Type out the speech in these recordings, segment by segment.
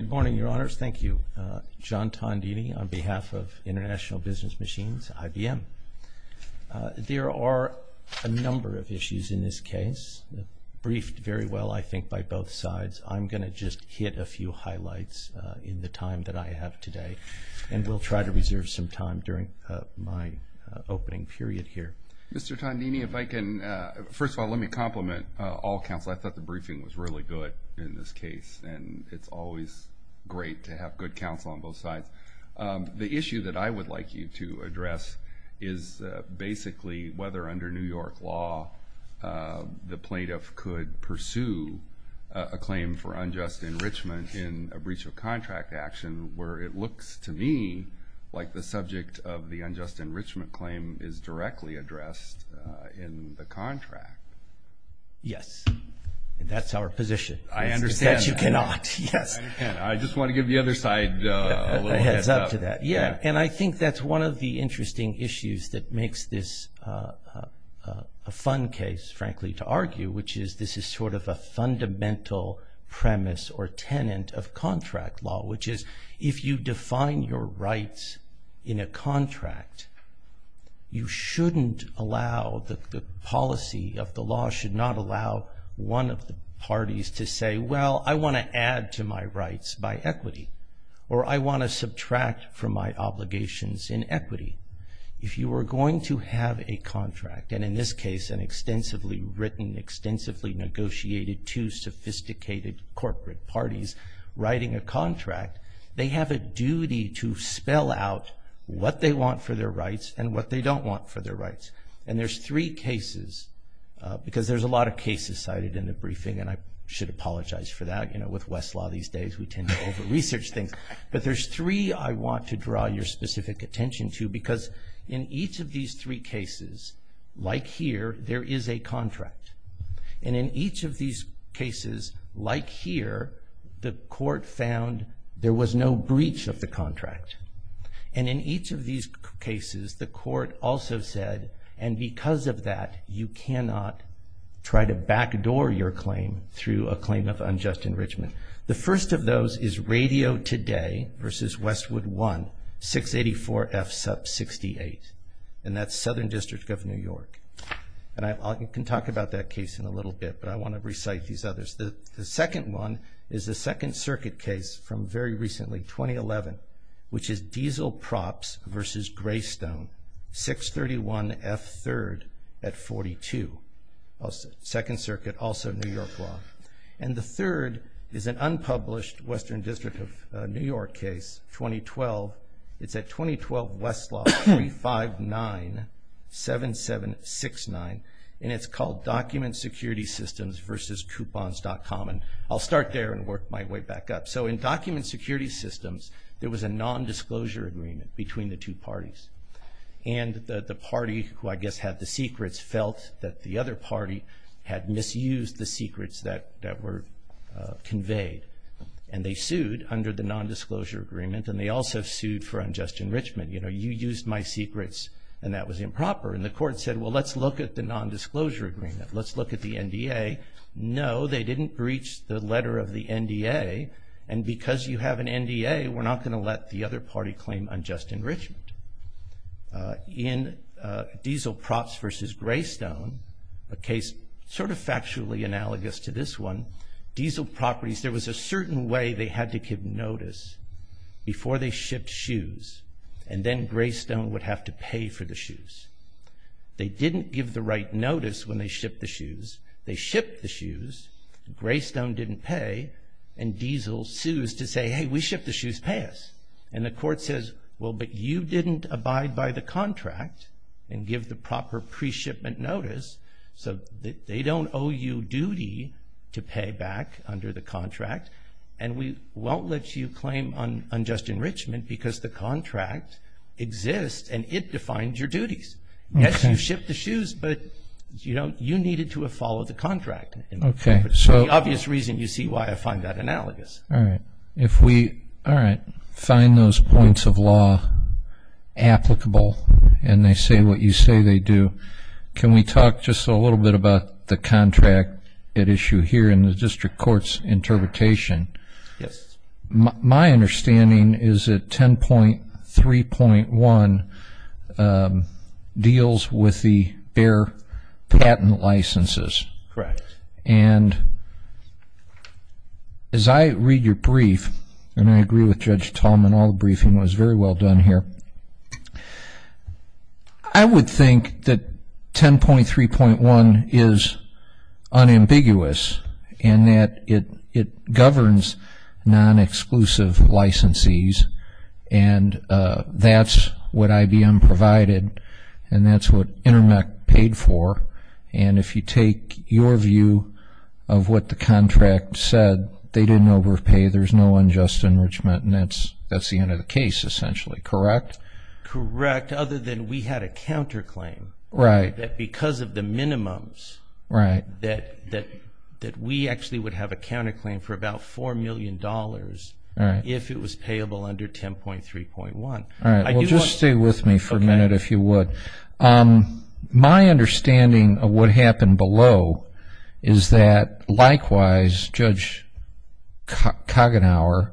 Good morning, Your Honors. Thank you. John Tondini on behalf of International Business Machines, IBM. There are a number of issues in this case, briefed very well, I think, by both sides. I'm going to just hit a few highlights in the time that I have today, and we'll try to reserve some time during my opening period here. Mr. Tondini, if I can, first of all, let me compliment all counsel. I thought the briefing was really good in this case, and it's always great to have good counsel on both sides. The issue that I would like you to address is basically whether, under New York law, the plaintiff could pursue a claim for unjust enrichment in a breach of contract action, where it looks to me like the subject of the unjust enrichment claim is directly addressed in the contract. Yes, that's our position. I understand. That you cannot, yes. I understand. I just want to give the other side a little heads up. A heads up to that, yeah. And I think that's one of the interesting issues that makes this a fun case, frankly, to argue, which is this is sort of a fundamental premise or tenant of contract law, which is if you define your rights in a contract, you shouldn't allow, the policy of the law should not allow one of the parties to say, well, I want to add to my rights by equity, or I want to subtract from my obligations in equity. If you are going to have a contract, and in this case an extensively written, extensively negotiated, two sophisticated corporate parties writing a contract, they have a duty to spell out what they want for their rights and what they don't want for their rights. And there's three cases, because there's a lot of cases cited in the briefing, and I should apologize for that. You know, with Westlaw these days, we tend to over-research things. But there's three I want to draw your specific attention to, because in each of these three cases, like here, there is a contract. And in each of these cases, like here, the court found there was no breach of the contract. And in each of these cases, the court also said, and because of that, you cannot try to backdoor your claim through a claim of unjust enrichment. The first of those is Radio Today v. Westwood 1, 684 F. 68. And that's Southern District of New York. And I can talk about that case in a little bit, but I want to recite these others. The second one is the Second Circuit case from very recently, 2011, which is Diesel Props v. Greystone, 631 F. 3rd at 42. Second Circuit, also New York law. And the third is an unpublished Western District of New York case, 2012. It's at 2012 Westlaw, 359-7769. And it's called Document Security Systems v. Coupons.com. And I'll start there and work my way back up. So in Document Security Systems, there was a nondisclosure agreement between the two parties. And the party, who I guess had the secrets, felt that the other party had misused the secrets that were conveyed. And they sued under the nondisclosure agreement, and they also sued for unjust enrichment. You know, you used my secrets, and that was improper. And the court said, well, let's look at the nondisclosure agreement. Let's look at the NDA. No, they didn't breach the letter of the NDA. And because you have an NDA, we're not going to let the other party claim unjust enrichment. In Diesel Props v. Greystone, a case sort of factually analogous to this one, Diesel Properties, there was a certain way they had to give notice before they shipped shoes, and then Greystone would have to pay for the shoes. They didn't give the right notice when they shipped the shoes. They shipped the shoes. Greystone didn't pay. And Diesel sues to say, hey, we shipped the shoes, pay us. And the court says, well, but you didn't abide by the contract and give the proper pre-shipment notice, so they don't owe you duty to pay back under the contract. And we won't let you claim unjust enrichment because the contract exists, and it defines your duties. Yes, you shipped the shoes, but, you know, you needed to have followed the contract. So the obvious reason you see why I find that analogous. All right, if we find those points of law applicable and they say what you say they do, can we talk just a little bit about the contract at issue here in the district court's interpretation? Yes. My understanding is that 10.3.1 deals with the bare patent licenses. Correct. And as I read your brief, and I agree with Judge Tallman, all the briefing was very well done here. I would think that 10.3.1 is unambiguous in that it governs non-exclusive licensees, and that's what IBM provided and that's what Intermec paid for. And if you take your view of what the contract said, they didn't overpay, there's no unjust enrichment, and that's the end of the case essentially, correct? Correct, other than we had a counterclaim. Right. That because of the minimums that we actually would have a counterclaim for about $4 million if it was payable under 10.3.1. All right, well, just stay with me for a minute if you would. My understanding of what happened below is that, likewise, Judge Koggenhauer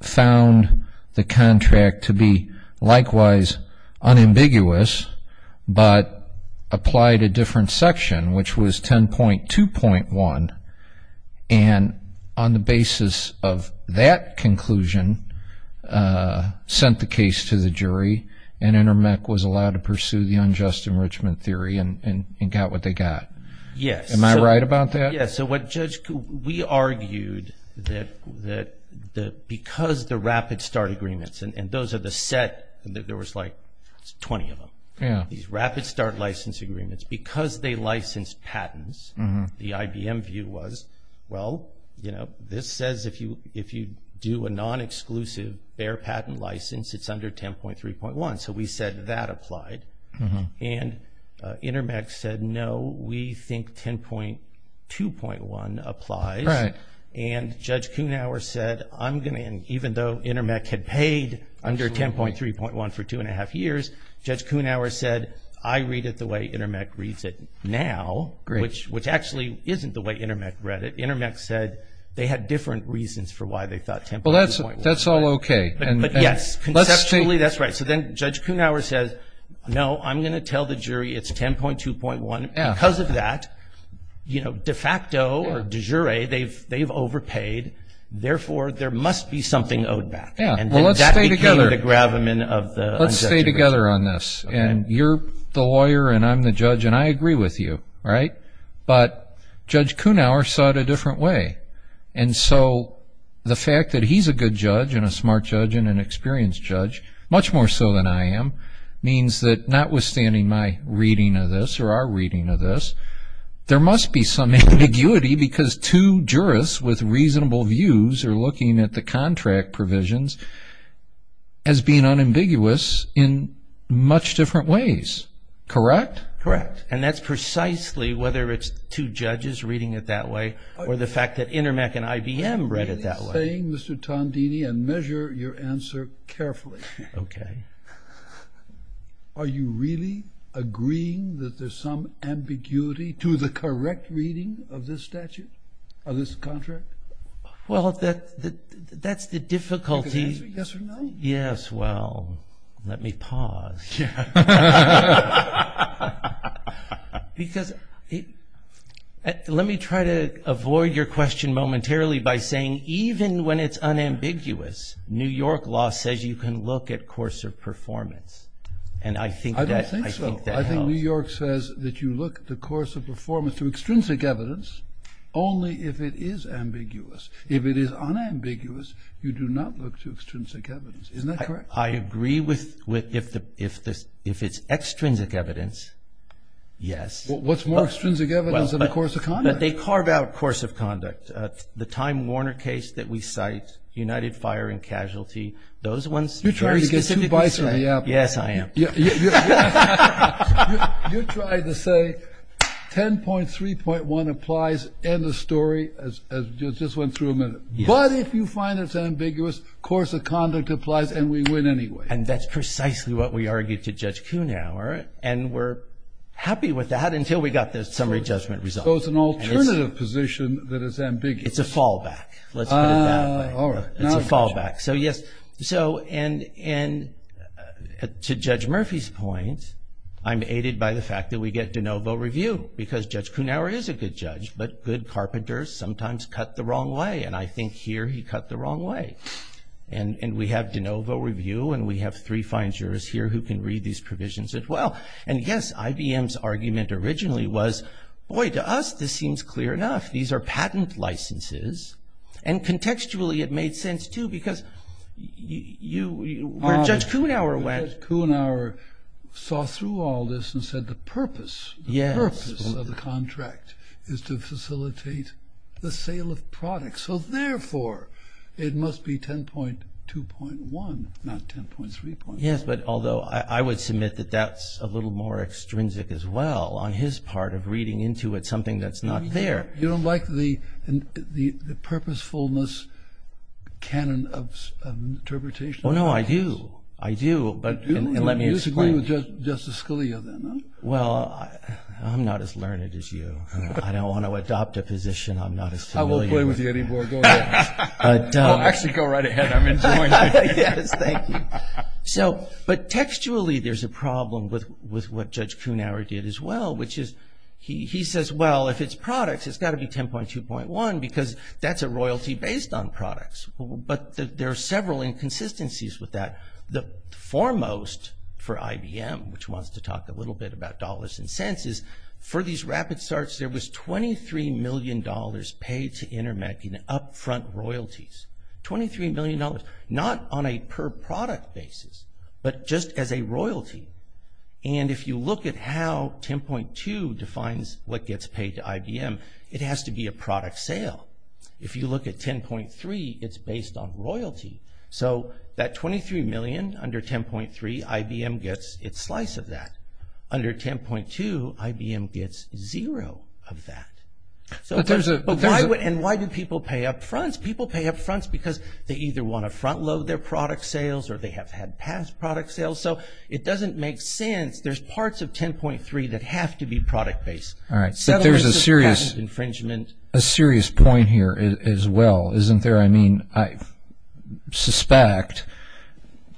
found the contract to be likewise unambiguous but applied a different section, which was 10.2.1, and on the basis of that conclusion sent the case to the jury and Intermec was allowed to pursue the unjust enrichment theory and got what they got. Yes. Am I right about that? Yes. So, Judge, we argued that because the rapid start agreements, and those are the set, there was like 20 of them, these rapid start license agreements, because they licensed patents, the IBM view was, well, you know, this says if you do a non-exclusive bare patent license, it's under 10.3.1, so we said that applied. And Intermec said, no, we think 10.2.1 applies. Right. And Judge Koggenhauer said, I'm going to, even though Intermec had paid under 10.3.1 for two and a half years, Judge Koggenhauer said, I read it the way Intermec reads it now, which actually isn't the way Intermec read it. Intermec said they had different reasons for why they thought 10.3.1. Well, that's all okay. Yes. Conceptually, that's right. So then Judge Koggenhauer says, no, I'm going to tell the jury it's 10.2.1. Because of that, you know, de facto or de jure, they've overpaid, therefore there must be something owed back. Yeah. Well, let's stay together. And that became the gravamen of the unjust enrichment. Let's stay together on this. And you're the lawyer and I'm the judge, and I agree with you. Right? But Judge Koggenhauer saw it a different way. And so the fact that he's a good judge and a smart judge and an experienced judge, much more so than I am, means that notwithstanding my reading of this or our reading of this, there must be some ambiguity because two jurists with reasonable views are looking at the contract provisions as being unambiguous in much different ways. Correct? Correct. And that's precisely whether it's two judges reading it that way or the fact that Intermec and IBM read it that way. I'm really saying, Mr. Tondini, and measure your answer carefully. Okay. Are you really agreeing that there's some ambiguity to the correct reading of this statute, of this contract? Well, that's the difficulty. You can answer yes or no. Yes. Well, let me pause. Yeah. Because let me try to avoid your question momentarily by saying even when it's unambiguous, New York law says you can look at course of performance, and I think that helps. I don't think so. I think New York says that you look at the course of performance through extrinsic evidence only if it is ambiguous. If it is unambiguous, you do not look to extrinsic evidence. Isn't that correct? I agree with if it's extrinsic evidence, yes. Well, what's more extrinsic evidence than the course of conduct? But they carve out course of conduct. The Time Warner case that we cite, United Fire and Casualty, those ones very specifically say. You're trying to get two bites on the apple. Yes, I am. You're trying to say 10.3.1 applies, end of story, as we just went through a minute. But if you find it's ambiguous, course of conduct applies, and we win anyway. And that's precisely what we argued to Judge Kuhnhauer, and we're happy with that until we got the summary judgment result. So it's an alternative position that is ambiguous. It's a fallback. Let's put it that way. All right. It's a fallback. So, yes, and to Judge Murphy's point, I'm aided by the fact that we get de novo review, because Judge Kuhnhauer is a good judge, but good carpenters sometimes cut the wrong way, and I think here he cut the wrong way. And we have de novo review, and we have three fine jurors here who can read these provisions as well. And, yes, IBM's argument originally was, boy, to us this seems clear enough. These are patent licenses. And contextually it made sense, too, because where Judge Kuhnhauer went. Judge Kuhnhauer saw through all this and said the purpose of the contract is to facilitate the sale of products. So, therefore, it must be 10.2.1, not 10.3.1. Yes, but although I would submit that that's a little more extrinsic as well on his part of reading into it something that's not there. You don't like the purposefulness canon of interpretation? Oh, no, I do. I do, but let me explain. You disagree with Justice Scalia, then? Well, I'm not as learned as you. I don't want to adopt a position I'm not as familiar with. I won't play with you anymore. Go ahead. I'll actually go right ahead. I'm enjoying it. Yes, thank you. But textually there's a problem with what Judge Kuhnhauer did as well, which is he says, well, if it's products, it's got to be 10.2.1 because that's a royalty based on products. But there are several inconsistencies with that. The foremost for IBM, which wants to talk a little bit about dollars and cents, is for these rapid starts there was $23 million paid to InterMEC in upfront royalties, $23 million, not on a per product basis, but just as a royalty. And if you look at how 10.2 defines what gets paid to IBM, it has to be a product sale. If you look at 10.3, it's based on royalty. So that $23 million under 10.3, IBM gets its slice of that. Under 10.2, IBM gets zero of that. And why do people pay upfronts? People pay upfronts because they either want to front load their product sales or they have had past product sales. So it doesn't make sense. There's parts of 10.3 that have to be product based. But there's a serious point here as well, isn't there? I mean, I suspect,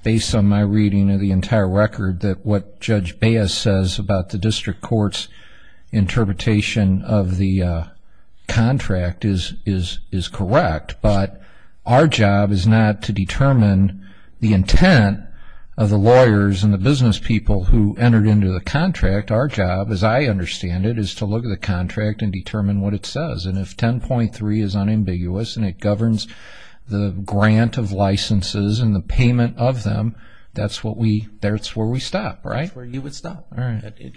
based on my reading of the entire record, that what Judge Baez says about the district court's interpretation of the contract is correct. But our job is not to determine the intent of the lawyers and the business people who entered into the contract. Our job, as I understand it, is to look at the contract and determine what it says. And if 10.3 is unambiguous and it governs the grant of licenses and the payment of them, that's where we stop, right? That's where you would stop.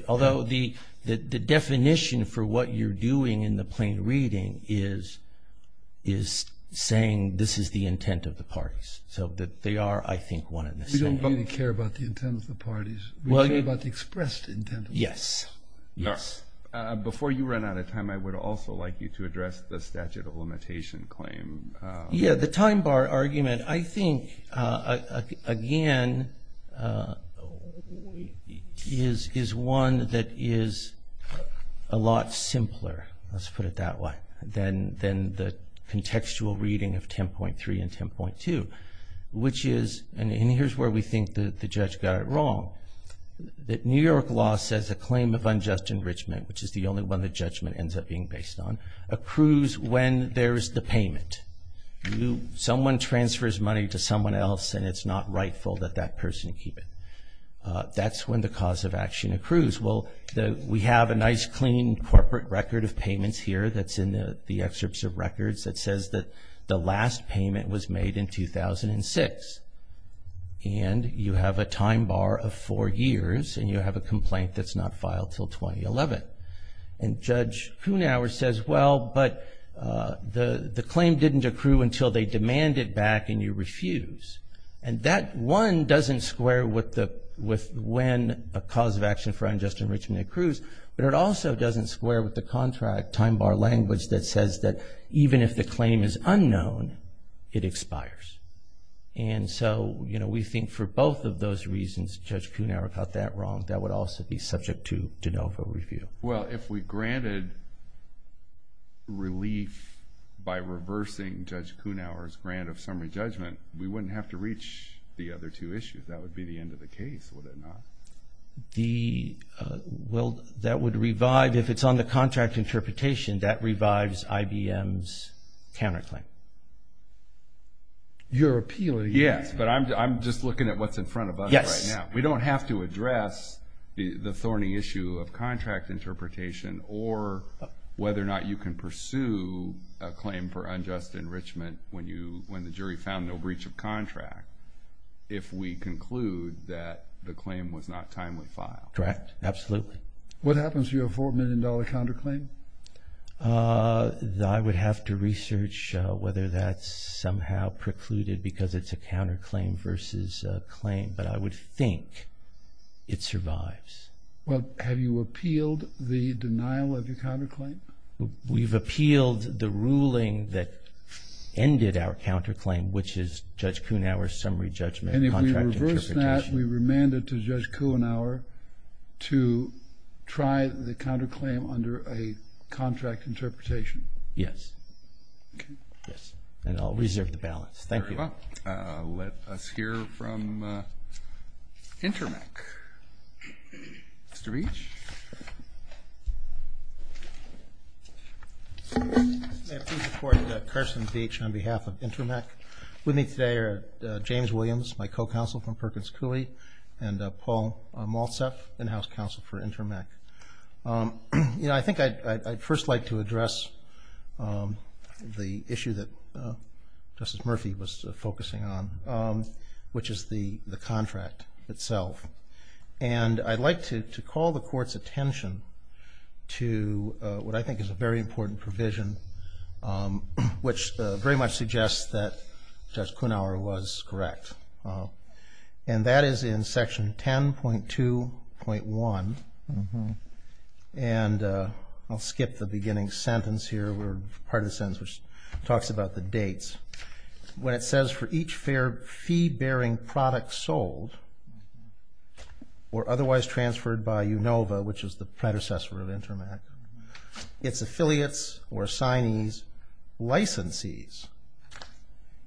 Although the definition for what you're doing in the plain reading is saying this is the intent of the parties. So they are, I think, one and the same. We don't really care about the intent of the parties. We care about the expressed intent of the parties. Yes. Before you run out of time, I would also like you to address the statute of limitation claim. Yeah, the time bar argument, I think, again, is one that is a lot simpler, let's put it that way, than the contextual reading of 10.3 and 10.2, which is, and here's where we think the judge got it wrong, that New York law says a claim of unjust enrichment, which is the only one the judgment ends up being based on, accrues when there's the payment. Someone transfers money to someone else and it's not rightful that that person keep it. That's when the cause of action accrues. Well, we have a nice, clean corporate record of payments here that's in the excerpts of records that says that the last payment was made in 2006. And you have a time bar of four years and you have a complaint that's not filed until 2011. And Judge Kuhnhauer says, well, but the claim didn't accrue until they demanded back and you refuse. And that one doesn't square with when a cause of action for unjust enrichment accrues, but it also doesn't square with the contract time bar language that says that even if the claim is unknown, it expires. And so we think for both of those reasons, Judge Kuhnhauer got that wrong. That would also be subject to de novo review. Well, if we granted relief by reversing Judge Kuhnhauer's grant of summary judgment, we wouldn't have to reach the other two issues. That would be the end of the case, would it not? Well, that would revive, if it's on the contract interpretation, that revives IBM's counterclaim. You're appealing. Yes, but I'm just looking at what's in front of us right now. We don't have to address the thorny issue of contract interpretation or whether or not you can pursue a claim for unjust enrichment when the jury found no breach of contract if we conclude that the claim was not timely filed. Correct, absolutely. What happens to your $4 million counterclaim? I would have to research whether that's somehow precluded because it's a counterclaim versus a claim, but I would think it survives. Well, have you appealed the denial of your counterclaim? We've appealed the ruling that ended our counterclaim, which is Judge Kuhnhauer's summary judgment contract interpretation. And if we reverse that, we remand it to Judge Kuhnhauer to try the counterclaim under a contract interpretation. Yes. Okay. Yes, and I'll reserve the balance. Thank you. Very well. Let us hear from Intermec. Mr. Beach? May I please report, Carson Beach on behalf of Intermec. With me today are James Williams, my co-counsel from Perkins Cooley, and Paul Maltsef, in-house counsel for Intermec. I think I'd first like to address the issue that Justice Murphy was focusing on, which is the contract itself. And I'd like to call the Court's attention to what I think is a very important provision, which very much suggests that Judge Kuhnhauer was correct. And that is in Section 10.2.1. And I'll skip the beginning sentence here. Part of the sentence talks about the dates. When it says, For each fair fee-bearing product sold or otherwise transferred by UNOVA, which is the predecessor of Intermec, its affiliates or assignees licensees.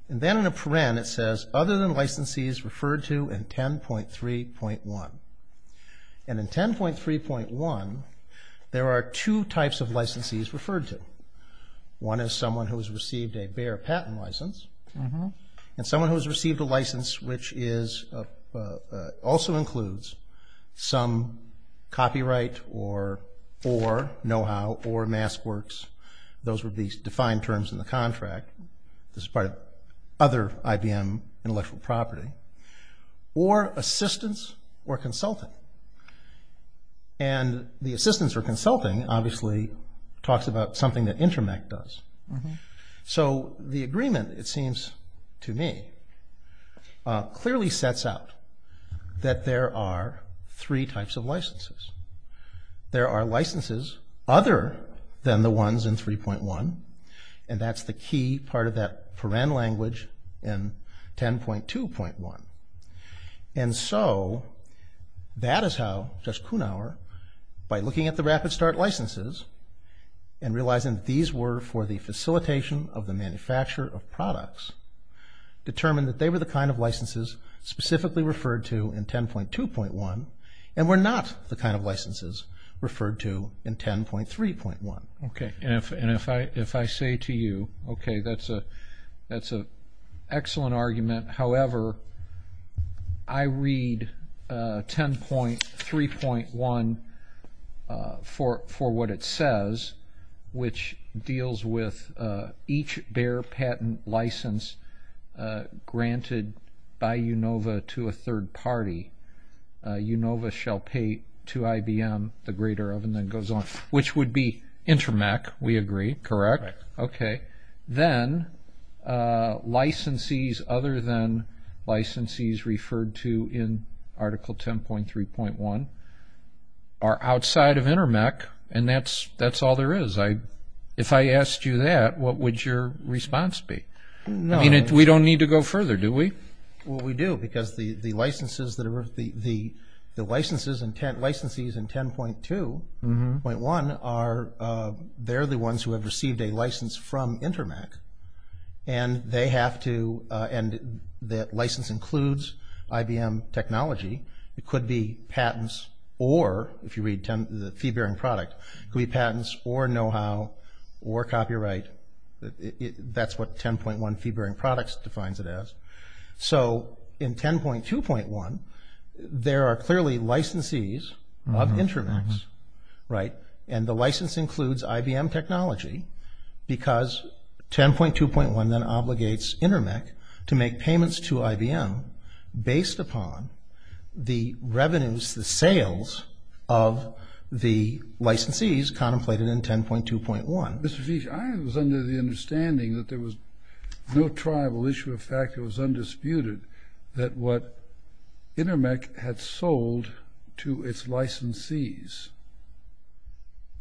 And then in a paren, it says, other than licensees referred to in 10.3.1. And in 10.3.1, there are two types of licensees referred to. One is someone who has received a bare patent license, and someone who has received a license which also includes some copyright or know-how or mass works, those would be defined terms in the contract. This is part of other IBM intellectual property. Or assistance or consulting. And the assistance or consulting obviously talks about something that Intermec does. So the agreement, it seems to me, clearly sets out that there are three types of licensees. There are licenses other than the ones in 3.1, and that's the key part of that paren language in 10.2.1. And so that is how Judge Kuhnhauer, by looking at the Rapid Start licenses and realizing that these were for the facilitation of the manufacture of products, determined that they were the kind of licenses specifically referred to in 10.2.1 and were not the kind of licenses referred to in 10.3.1. Okay. And if I say to you, okay, that's an excellent argument. However, I read 10.3.1 for what it says, which deals with each bare patent license granted by Unova to a third party. Unova shall pay to IBM, the greater of, and then goes on. Which would be Intermec, we agree. Correct? Correct. Okay. Then licensees other than licensees referred to in Article 10.3.1 are outside of Intermec, and that's all there is. If I asked you that, what would your response be? No. I mean, we don't need to go further, do we? Well, we do, because the licenses and licensees in 10.2.1, they're the ones who have received a license from Intermec, and that license includes IBM technology. It could be patents or, if you read the fee-bearing product, it could be patents or know-how or copyright. That's what 10.1 fee-bearing products defines it as. So in 10.2.1, there are clearly licensees of Intermec, right, and the license includes IBM technology because 10.2.1 then obligates Intermec to make payments to IBM based upon the revenues, the sales of the licensees contemplated in 10.2.1. Mr. Feech, I was under the understanding that there was no tribal issue of fact that was undisputed that what Intermec had sold to its licensees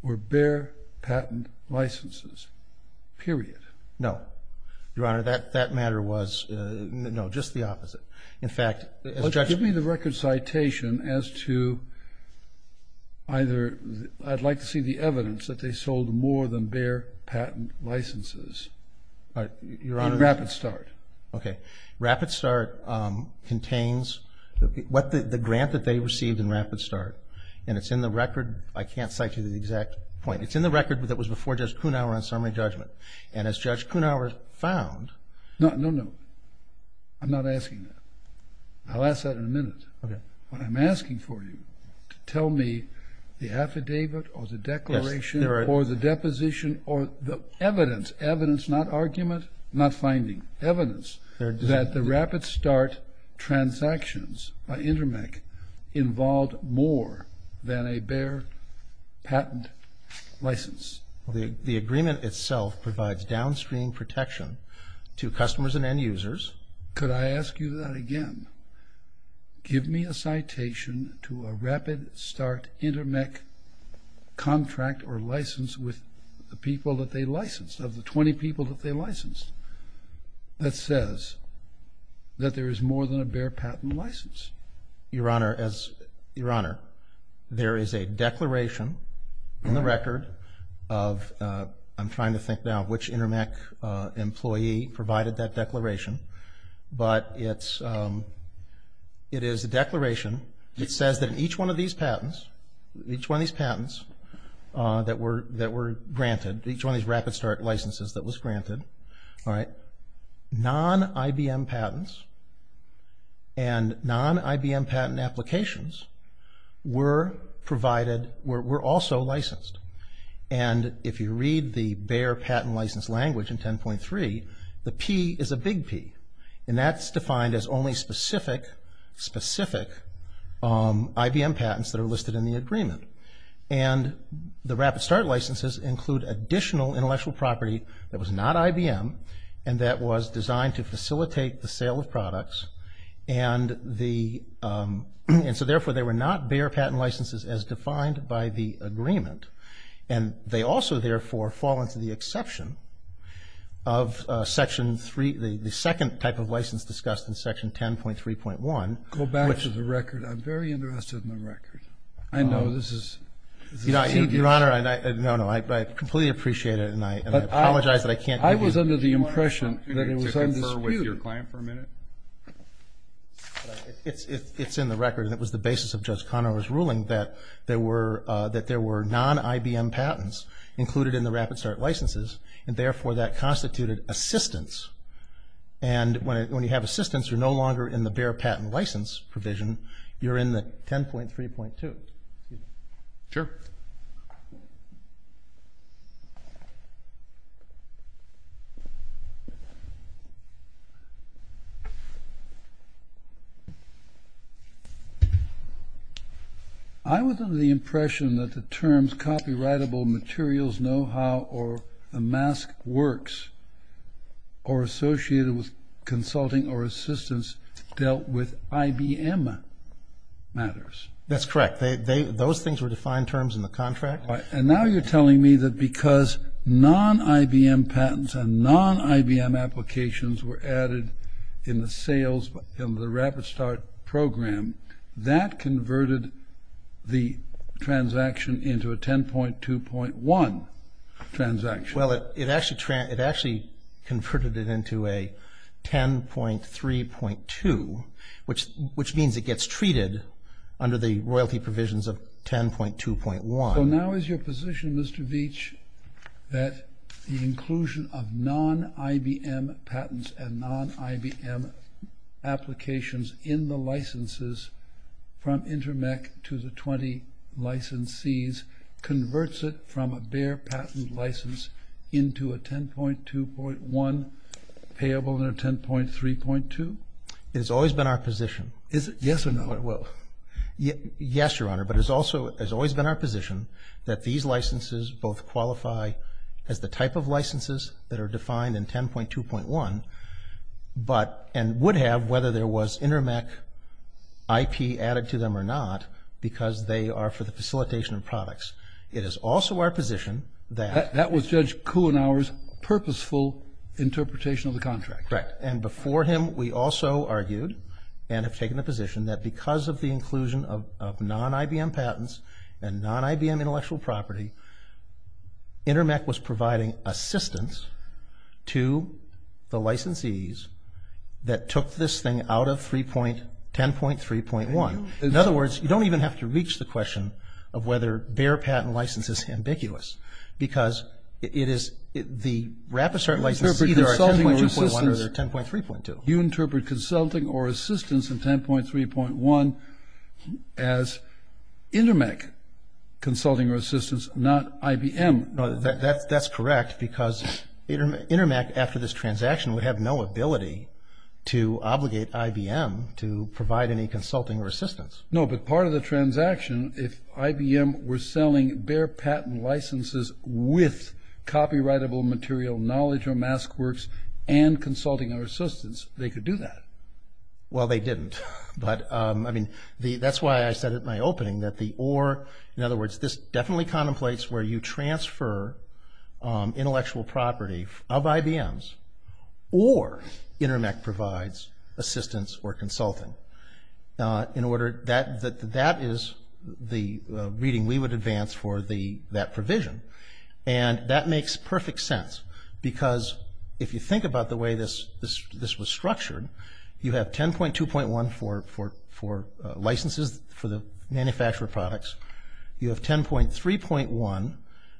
were Bayer patent licenses, period. No. Your Honor, that matter was no, just the opposite. In fact, as a judge— Give me the record citation as to either I'd like to see the evidence that they sold more than Bayer patent licenses in Rapid Start. Okay. Rapid Start contains the grant that they received in Rapid Start, and it's in the record. I can't cite you the exact point. It's in the record that was before Judge Kuhnhauer on summary judgment, and as Judge Kuhnhauer found— No, no, no. I'm not asking that. I'll ask that in a minute. What I'm asking for you to tell me the affidavit or the declaration or the deposition or the evidence, evidence, not argument, not finding, evidence that the Rapid Start transactions by Intermec involved more than a Bayer patent license. The agreement itself provides downstream protection to customers and end users. Could I ask you that again? Give me a citation to a Rapid Start Intermec contract or license with the people that they licensed, of the 20 people that they licensed, that says that there is more than a Bayer patent license. Your Honor, there is a declaration in the record of— I'm trying to think now which Intermec employee provided that declaration, but it is a declaration that says that in each one of these patents, each one of these patents that were granted, each one of these Rapid Start licenses that was granted, non-IBM patents and non-IBM patent applications were provided, were also licensed. And if you read the Bayer patent license language in 10.3, the P is a big P and that's defined as only specific, specific IBM patents that are listed in the agreement. And the Rapid Start licenses include additional intellectual property that was not IBM and that was designed to facilitate the sale of products and the—and so therefore they were not Bayer patent licenses as defined by the agreement. And they also therefore fall into the exception of Section 3, the second type of license discussed in Section 10.3.1, which— Go back to the record. I'm very interested in the record. I know this is tedious. Your Honor, no, no. I completely appreciate it and I apologize that I can't give you— I was under the impression that it was undisputed. To confer with your client for a minute? It's in the record and it was the basis of Judge Conover's ruling that there were non-IBM patents included in the Rapid Start licenses and therefore that constituted assistance. And when you have assistance, you're no longer in the Bayer patent license provision. You're in the 10.3.2. Sure. Thank you. I was under the impression that the terms copyrightable materials, know-how, or the mask works, or associated with consulting or assistance dealt with IBM matters. That's correct. Those things were defined terms in the contract. And now you're telling me that because non-IBM patents and non-IBM applications were added in the sales in the Rapid Start program, that converted the transaction into a 10.2.1 transaction. Well, it actually converted it into a 10.3.2, which means it gets treated under the royalty provisions of 10.2.1. So now is your position, Mr. Veach, that the inclusion of non-IBM patents and non-IBM applications in the licenses from Intermec to the 20 licensees converts it from a Bayer patent license into a 10.2.1 payable and a 10.3.2? It has always been our position. Is it yes or no? Yes, Your Honor. But it has always been our position that these licenses both qualify as the type of licenses that are defined in 10.2.1, and would have whether there was Intermec IP added to them or not, because they are for the facilitation of products. It is also our position that… That was Judge Kuhnauer's purposeful interpretation of the contract. Correct. And before him we also argued, and have taken a position, that because of the inclusion of non-IBM patents and non-IBM intellectual property, Intermec was providing assistance to the licensees that took this thing out of 10.3.1. In other words, you don't even have to reach the question of whether Bayer patent license is ambiguous, because it is the rapid start license, either at 10.2.1 or 10.3.2. You interpret consulting or assistance in 10.3.1 as Intermec consulting or assistance, not IBM. No, that's correct, because Intermec, after this transaction, would have no ability to obligate IBM to provide any consulting or assistance. No, but part of the transaction, if IBM were selling Bayer patent licenses with copyrightable material, knowledge, or mask works, and consulting or assistance, they could do that. Well, they didn't. But, I mean, that's why I said at my opening that the or, in other words, this definitely contemplates where you transfer intellectual property of IBM's or Intermec provides assistance or consulting. In order, that is the reading we would advance for that provision. And that makes perfect sense, because if you think about the way this was structured, you have 10.2.1 for licenses for the manufacturer products. You have 10.3.1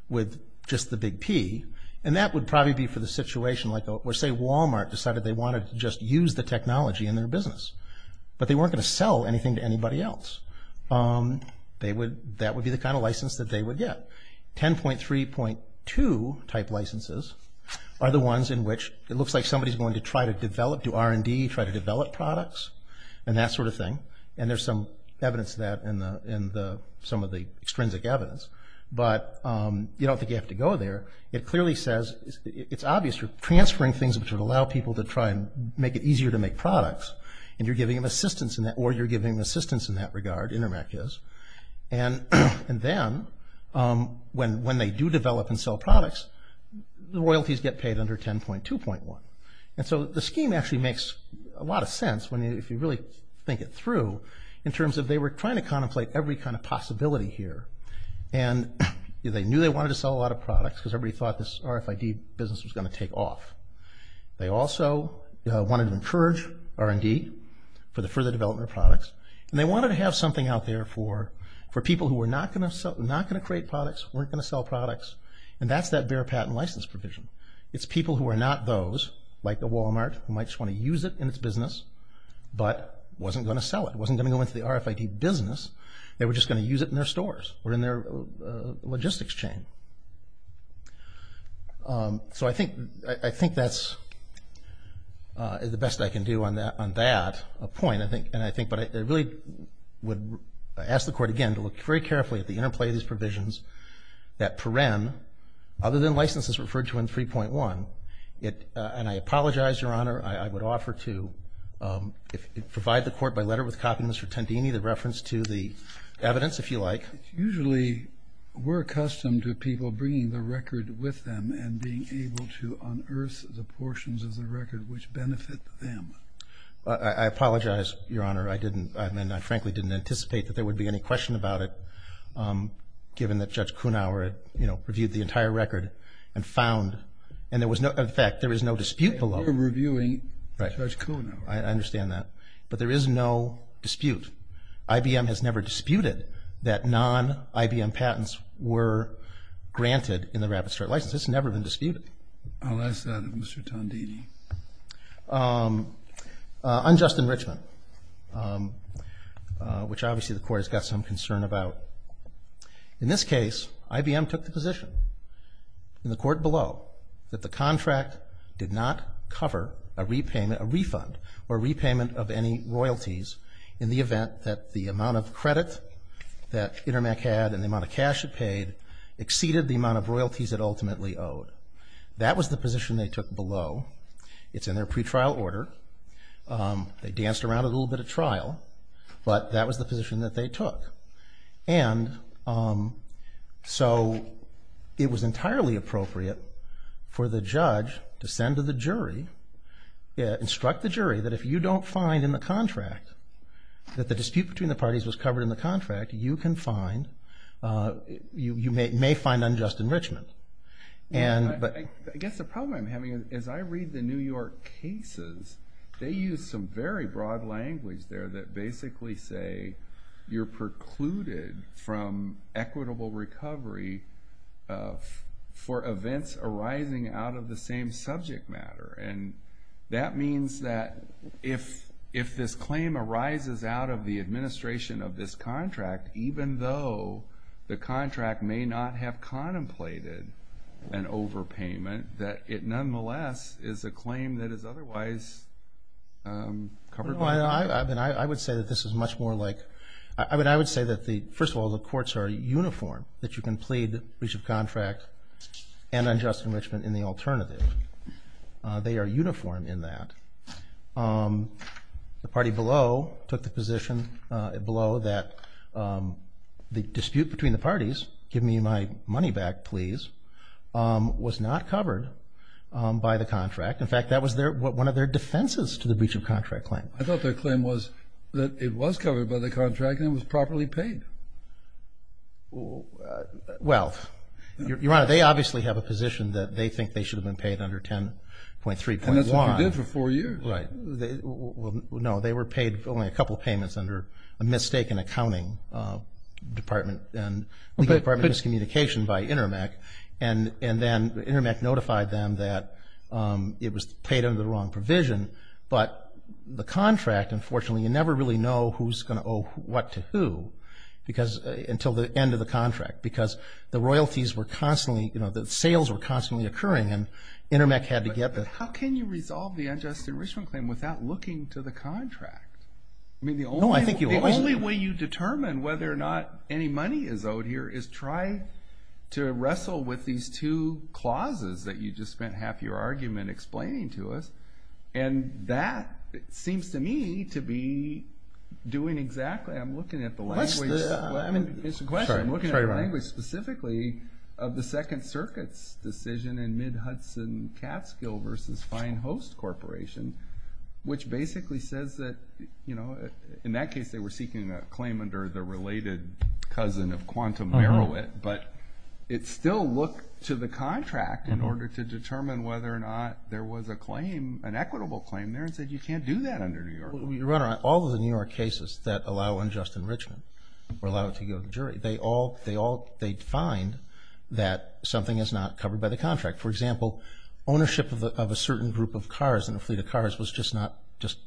with just the big P, and that would probably be for the situation like where, say, but they weren't going to sell anything to anybody else. That would be the kind of license that they would get. 10.3.2 type licenses are the ones in which it looks like somebody's going to try to develop, do R&D, try to develop products, and that sort of thing. And there's some evidence of that in some of the extrinsic evidence. But you don't think you have to go there. It clearly says it's obvious you're transferring things which would allow people to try and make it easier to make products, and you're giving them assistance in that, or you're giving them assistance in that regard, Intermec is. And then when they do develop and sell products, the royalties get paid under 10.2.1. And so the scheme actually makes a lot of sense, if you really think it through, in terms of they were trying to contemplate every kind of possibility here. And they knew they wanted to sell a lot of products because everybody thought this RFID business was going to take off. They also wanted to encourage R&D for the further development of products. And they wanted to have something out there for people who were not going to create products, weren't going to sell products, and that's that bare patent license provision. It's people who are not those, like a Walmart, who might just want to use it in its business, but wasn't going to sell it, wasn't going to go into the RFID business. They were just going to use it in their stores or in their logistics chain. So I think that's the best I can do on that point, I think. But I really would ask the Court, again, to look very carefully at the interplay of these provisions that Perrin, other than licenses referred to in 3.1, and I apologize, Your Honor, I would offer to provide the Court by letter with a copy of Mr. Tendini, the reference to the evidence, if you like. Usually, we're accustomed to people bringing the record with them and being able to unearth the portions of the record which benefit them. I apologize, Your Honor. I didn't, I mean, I frankly didn't anticipate that there would be any question about it, given that Judge Kunauer, you know, reviewed the entire record and found, and there was no, in fact, there was no dispute below. We're reviewing Judge Kunauer. I understand that. But there is no dispute. IBM has never disputed that non-IBM patents were granted in the Rapid Start license. It's never been disputed. I'll ask that of Mr. Tendini. Unjust enrichment, which obviously the Court has got some concern about. In this case, IBM took the position in the court below that the contract did not cover a repayment, a refund, or repayment of any royalties in the event that the amount of credit that Intermec had and the amount of cash it paid exceeded the amount of royalties it ultimately owed. That was the position they took below. It's in their pretrial order. They danced around a little bit at trial, but that was the position that they took. And so it was entirely appropriate for the judge to send to the jury, instruct the jury that if you don't find in the contract that the dispute between the parties was covered in the contract, you can find, you may find unjust enrichment. I guess the problem I'm having is I read the New York cases. They use some very broad language there that basically say you're precluded from equitable recovery for events arising out of the same subject matter. And that means that if this claim arises out of the administration of this contract, even though the contract may not have contemplated an overpayment, that it nonetheless is a claim that is otherwise covered by the contract. I would say that this is much more like, I would say that, first of all, the courts are uniform, that you can plead breach of contract and unjust enrichment in the alternative. They are uniform in that. The party below took the position below that the dispute between the parties, give me my money back, please, was not covered by the contract. In fact, that was one of their defenses to the breach of contract claim. I thought their claim was that it was covered by the contract and it was properly paid. Well, Your Honor, they obviously have a position that they think they should have been paid under 10.3.1. And that's what you did for four years. Right. No, they were paid only a couple of payments under a mistaken accounting department and legal department miscommunication by Intermec. And then Intermec notified them that it was paid under the wrong provision. But the contract, unfortunately, you never really know who's going to owe what to who until the end of the contract because the royalties were constantly, the sales were constantly occurring and Intermec had to get the... But how can you resolve the unjust enrichment claim without looking to the contract? No, I think you always... The only way you determine whether or not any money is owed here is try to wrestle with these two clauses that you just spent half your argument explaining to us. And that seems to me to be doing exactly... I'm looking at the language... What's the... I mean, it's a question. Sorry, Your Honor. I'm looking at the language specifically of the Second Circuit's decision in mid-Hudson Catskill v. Fine Host Corporation, which basically says that, in that case, they were seeking a claim under the related cousin of Quantum Berowit, but it still looked to the contract in order to determine whether or not there was a claim, an equitable claim there, and said you can't do that under New York. Your Honor, all of the New York cases that allow unjust enrichment or allow it to go to the jury, they all define that something is not covered by the contract. For example, ownership of a certain group of cars, in a fleet of cars, was just not...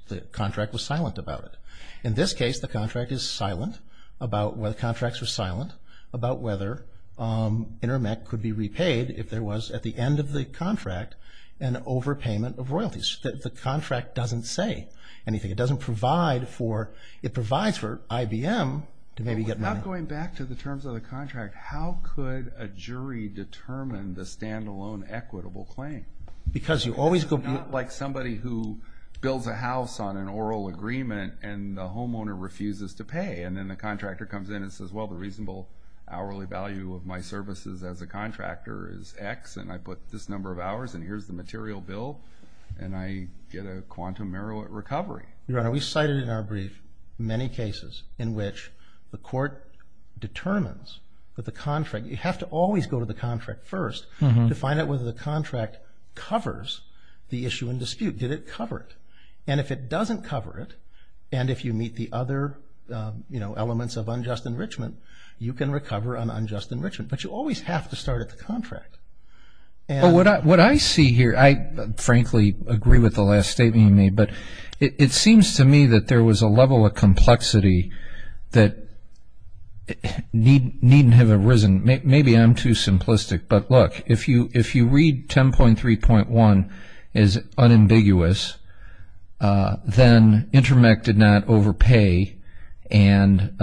The contract was silent about it. In this case, the contract is silent about... The contracts were silent about whether Intermec could be repaid if there was, at the end of the contract, an overpayment of royalties. The contract doesn't say anything. It doesn't provide for... It provides for IBM to maybe get money. Without going back to the terms of the contract, how could a jury determine the stand-alone equitable claim? Because you always... It's not like somebody who builds a house on an oral agreement and the homeowner refuses to pay, and then the contractor comes in and says, Well, the reasonable hourly value of my services as a contractor is X, and I put this number of hours, and here's the material bill, and I get a quantum merit recovery. Your Honor, we've cited in our brief many cases in which the court determines that the contract... You have to always go to the contract first to find out whether the contract covers the issue in dispute. Did it cover it? And if it doesn't cover it, and if you meet the other elements of unjust enrichment, you can recover on unjust enrichment. But you always have to start at the contract. What I see here, I frankly agree with the last statement you made, but it seems to me that there was a level of complexity that needn't have arisen. Maybe I'm too simplistic, but look, if you read 10.3.1 as unambiguous, then Intermec did not overpay, and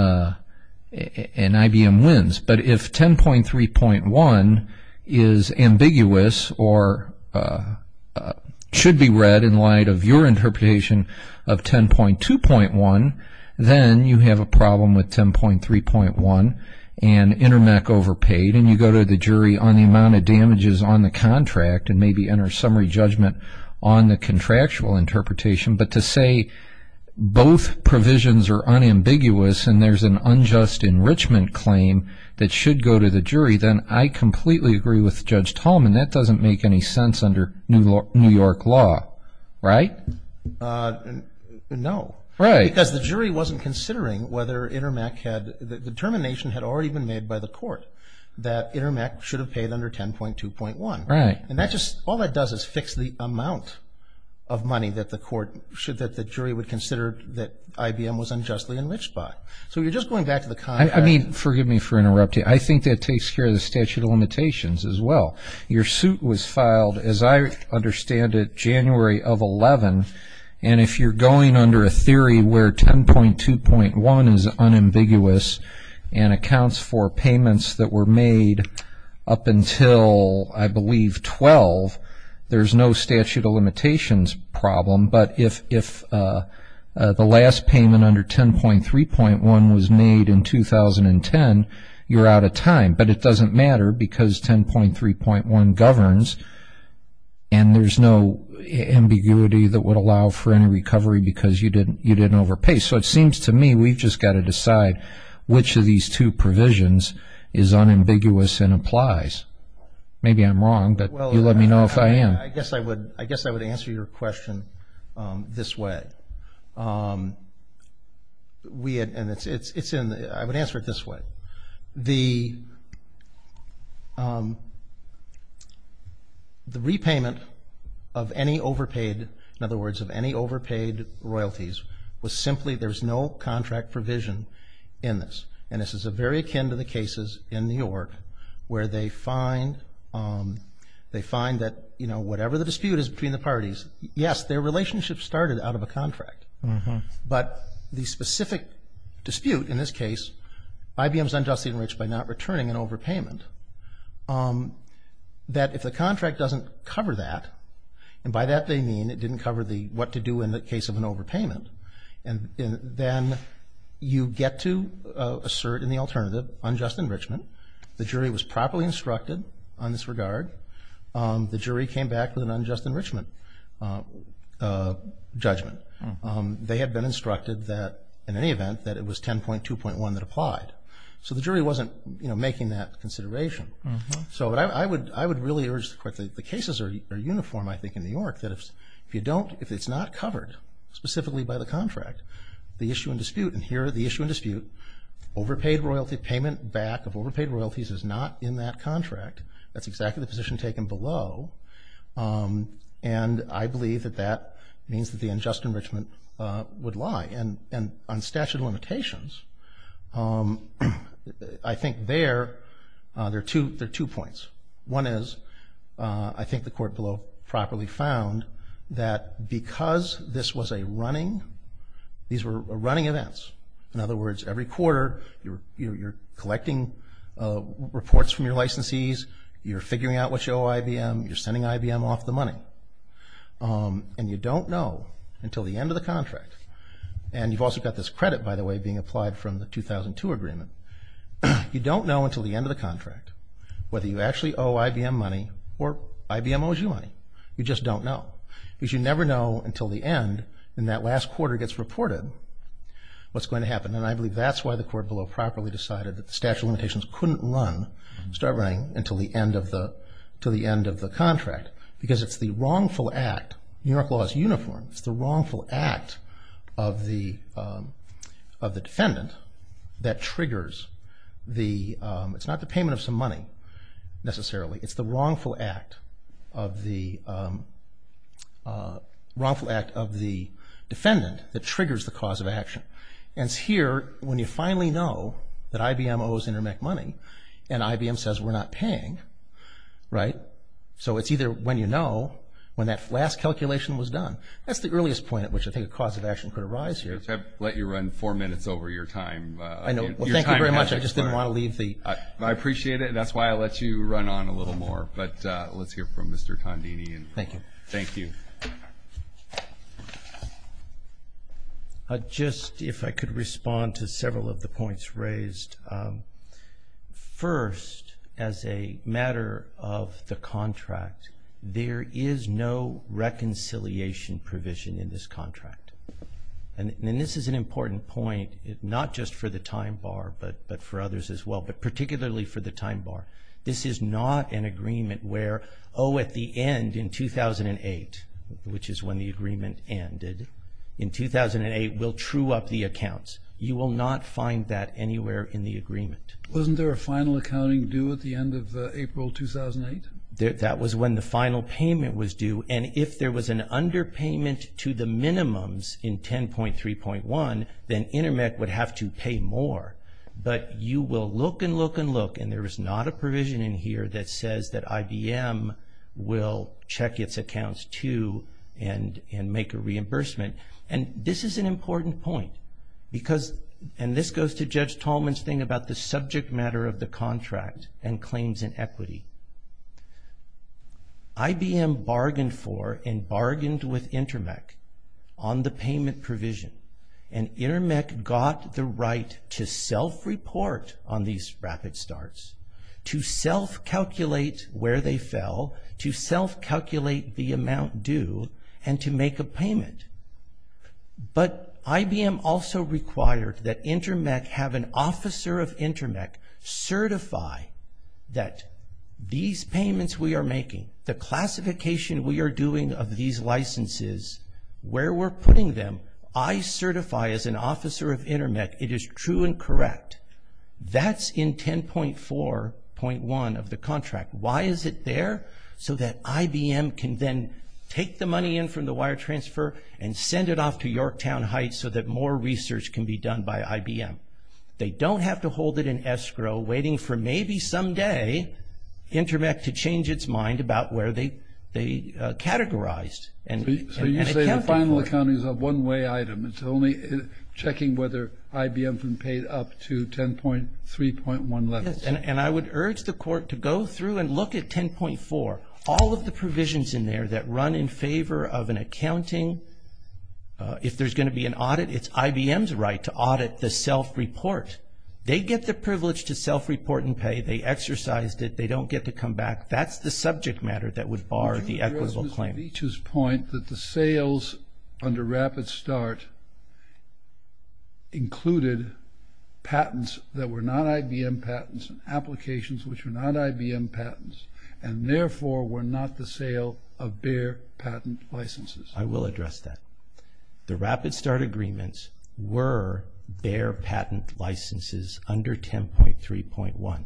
IBM wins. But if 10.3.1 is ambiguous or should be read in light of your interpretation of 10.2.1, then you have a problem with 10.3.1 and Intermec overpaid, and you go to the jury on the amount of damages on the contract and maybe enter a summary judgment on the contractual interpretation. But to say both provisions are unambiguous and there's an unjust enrichment claim that should go to the jury, then I completely agree with Judge Tolman that doesn't make any sense under New York law, right? No, because the jury wasn't considering whether Intermec had, the determination had already been made by the court that Intermec should have paid under 10.2.1. Right. And that just, all that does is fix the amount of money that the court, that the jury would consider that IBM was unjustly enriched by. So you're just going back to the contract. I mean, forgive me for interrupting. I think that takes care of the statute of limitations as well. Your suit was filed, as I understand it, January of 2011, and if you're going under a theory where 10.2.1 is unambiguous and accounts for payments that were made up until, I believe, 12, there's no statute of limitations problem. But if the last payment under 10.3.1 was made in 2010, you're out of time. But it doesn't matter because 10.3.1 governs and there's no ambiguity that would allow for any recovery because you didn't overpay. So it seems to me we've just got to decide which of these two provisions is unambiguous and applies. Maybe I'm wrong, but you let me know if I am. I guess I would answer your question this way. I would answer it this way. The repayment of any overpaid, in other words, of any overpaid royalties was simply there's no contract provision in this, and this is very akin to the cases in New York where they find that whatever the dispute is between the parties, yes, their relationship started out of a contract. But the specific dispute in this case, IBM's unjustly enriched by not returning an overpayment, that if the contract doesn't cover that, and by that they mean it didn't cover what to do in the case of an overpayment, then you get to assert in the alternative unjust enrichment. The jury was properly instructed on this regard. The jury came back with an unjust enrichment judgment. They had been instructed that, in any event, that it was 10.2.1 that applied. So the jury wasn't making that consideration. So I would really urge quickly, the cases are uniform, I think, in New York, that if you don't, if it's not covered specifically by the contract, the issue and dispute, and here are the issue and dispute, overpaid royalty, payment back of overpaid royalties is not in that contract. That's exactly the position taken below, and I believe that that means that the unjust enrichment would lie. And on statute of limitations, I think there are two points. One is, I think the court below properly found, that because this was a running, these were running events, in other words, every quarter you're collecting reports from your licensees, you're figuring out what you owe IBM, you're sending IBM off the money, and you don't know until the end of the contract, and you've also got this credit, by the way, being applied from the 2002 agreement, you don't know until the end of the contract, whether you actually owe IBM money, or IBM owes you money. You just don't know. Because you never know until the end, and that last quarter gets reported, what's going to happen. And I believe that's why the court below properly decided that the statute of limitations couldn't run, start running until the end of the contract, because it's the wrongful act, New York law is uniform, it's the wrongful act of the defendant that triggers the, it's not the payment of some money, necessarily, it's the wrongful act of the defendant that triggers the cause of action. And it's here, when you finally know that IBM owes Intermec money, and IBM says we're not paying, right, so it's either when you know, when that last calculation was done, that's the earliest point at which I think a cause of action could arise here. I've let you run four minutes over your time. I know. Well, thank you very much, I just didn't want to leave the. I appreciate it, and that's why I let you run on a little more. But let's hear from Mr. Tondini. Thank you. Thank you. Just if I could respond to several of the points raised. First, as a matter of the contract, there is no reconciliation provision in this contract. And this is an important point, not just for the time bar, but for others as well, but particularly for the time bar. This is not an agreement where, oh, at the end, in 2008, which is when the agreement ended, in 2008, we'll true up the accounts. You will not find that anywhere in the agreement. Wasn't there a final accounting due at the end of April 2008? That was when the final payment was due, and if there was an underpayment to the minimums in 10.3.1, then Intermec would have to pay more. But you will look and look and look, and there is not a provision in here that says that IBM will check its accounts too and make a reimbursement. And this is an important point because, and this goes to Judge Tolman's thing about the subject matter of the contract and claims and equity. IBM bargained for and bargained with Intermec on the payment provision, and Intermec got the right to self-report on these rapid starts, to self-calculate where they fell, to self-calculate the amount due, and to make a payment. But IBM also required that Intermec have an officer of Intermec certify that these payments we are making, the classification we are doing of these licenses, where we're putting them, I certify as an officer of Intermec it is true and correct. That's in 10.4.1 of the contract. Why is it there? So that IBM can then take the money in from the wire transfer and send it off to Yorktown Heights so that more research can be done by IBM. They don't have to hold it in escrow waiting for maybe someday Intermec to change its mind about where they categorized. So you say the final accounting is a one-way item. It's only checking whether IBM has been paid up to 10.3.1 levels. Yes, and I would urge the court to go through and look at 10.4. All of the provisions in there that run in favor of an accounting, if there's going to be an audit, it's IBM's right to audit the self-report. They get the privilege to self-report and pay. They exercised it. They don't get to come back. That's the subject matter that would bar the equitable claim. Would you address Ms. Beech's point that the sales under Rapid Start included patents that were not IBM patents, applications which were not IBM patents, and therefore were not the sale of Bayer patent licenses? I will address that. The Rapid Start agreements were Bayer patent licenses under 10.3.1.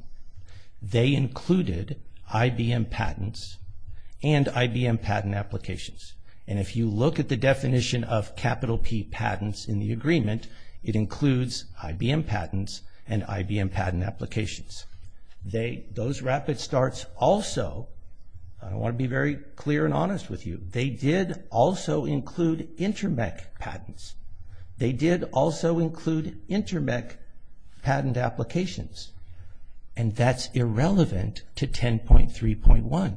They included IBM patents and IBM patent applications. And if you look at the definition of capital P patents in the agreement, it includes IBM patents and IBM patent applications. Those Rapid Starts also, I want to be very clear and honest with you, they did also include Intermec patents. They did also include Intermec patent applications, and that's irrelevant to 10.3.1.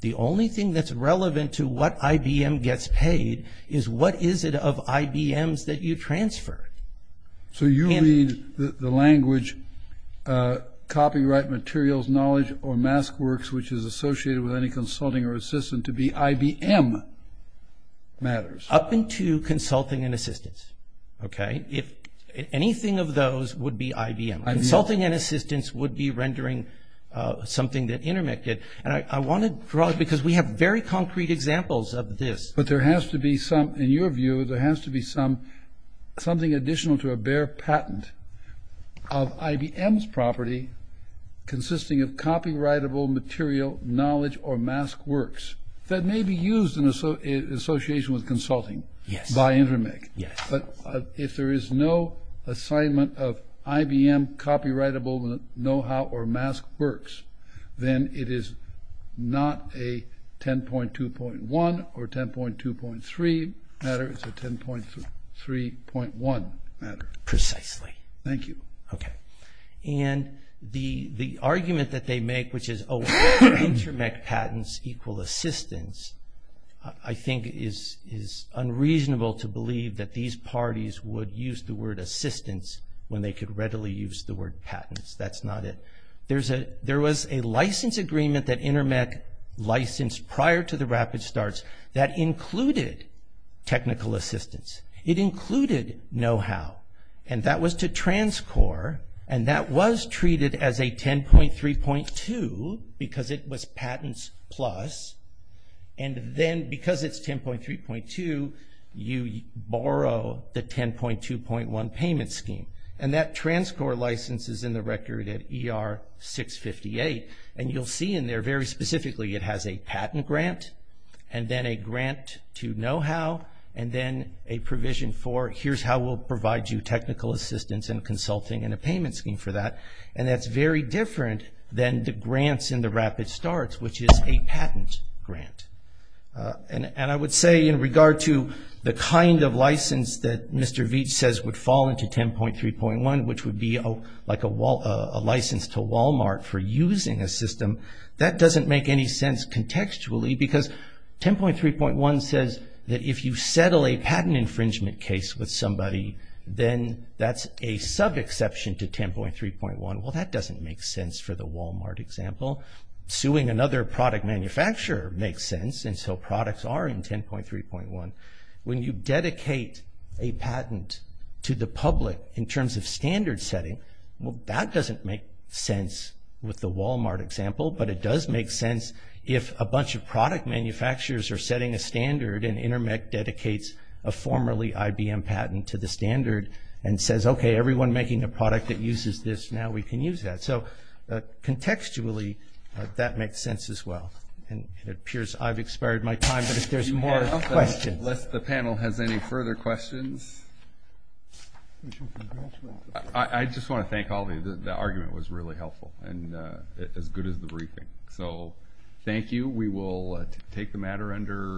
The only thing that's relevant to what IBM gets paid is what is it of IBMs that you transfer. So you mean the language copyright materials, knowledge, or mask works, which is associated with any consulting or assistant to be IBM matters? Up into consulting and assistance. Anything of those would be IBM. Consulting and assistance would be rendering something that Intermec did. And I want to draw it because we have very concrete examples of this. But there has to be some, in your view, there has to be something additional to a Bayer patent of IBM's property consisting of copyrightable material, knowledge, or mask works that may be used in association with consulting by Intermec. But if there is no assignment of IBM copyrightable know-how or mask works, then it is not a 10.2.1 or 10.2.3 matter. It's a 10.3.1 matter. Precisely. Thank you. Okay. And the argument that they make, which is, oh, Intermec patents equal assistance, I think is unreasonable to believe that these parties would use the word assistance when they could readily use the word patents. That's not it. There was a license agreement that Intermec licensed prior to the rapid starts that included technical assistance. It included know-how. And that was to transcore. And that was treated as a 10.3.2 because it was patents plus. And then because it's 10.3.2, you borrow the 10.2.1 payment scheme. And that transcore license is in the record at ER 658. And you'll see in there very specifically it has a patent grant and then a grant to know-how and then a provision for, here's how we'll provide you technical assistance and consulting and a payment scheme for that. And that's very different than the grants in the rapid starts, which is a patent grant. And I would say in regard to the kind of license that Mr. Veach says would fall into 10.3.1, which would be like a license to Walmart for using a system, that doesn't make any sense contextually because 10.3.1 says that if you settle a patent infringement case with somebody, then that's a sub-exception to 10.3.1. Well, that doesn't make sense for the Walmart example. Suing another product manufacturer makes sense, and so products are in 10.3.1. When you dedicate a patent to the public in terms of standard setting, well, that doesn't make sense with the Walmart example, but it does make sense if a bunch of product manufacturers are setting a standard and Intermec dedicates a formerly IBM patent to the standard and says, okay, everyone making a product that uses this, now we can use that. So contextually, that makes sense as well. And it appears I've expired my time, but if there's more questions. Unless the panel has any further questions. I just want to thank all of you. The argument was really helpful and as good as the briefing. We will take the matter under review.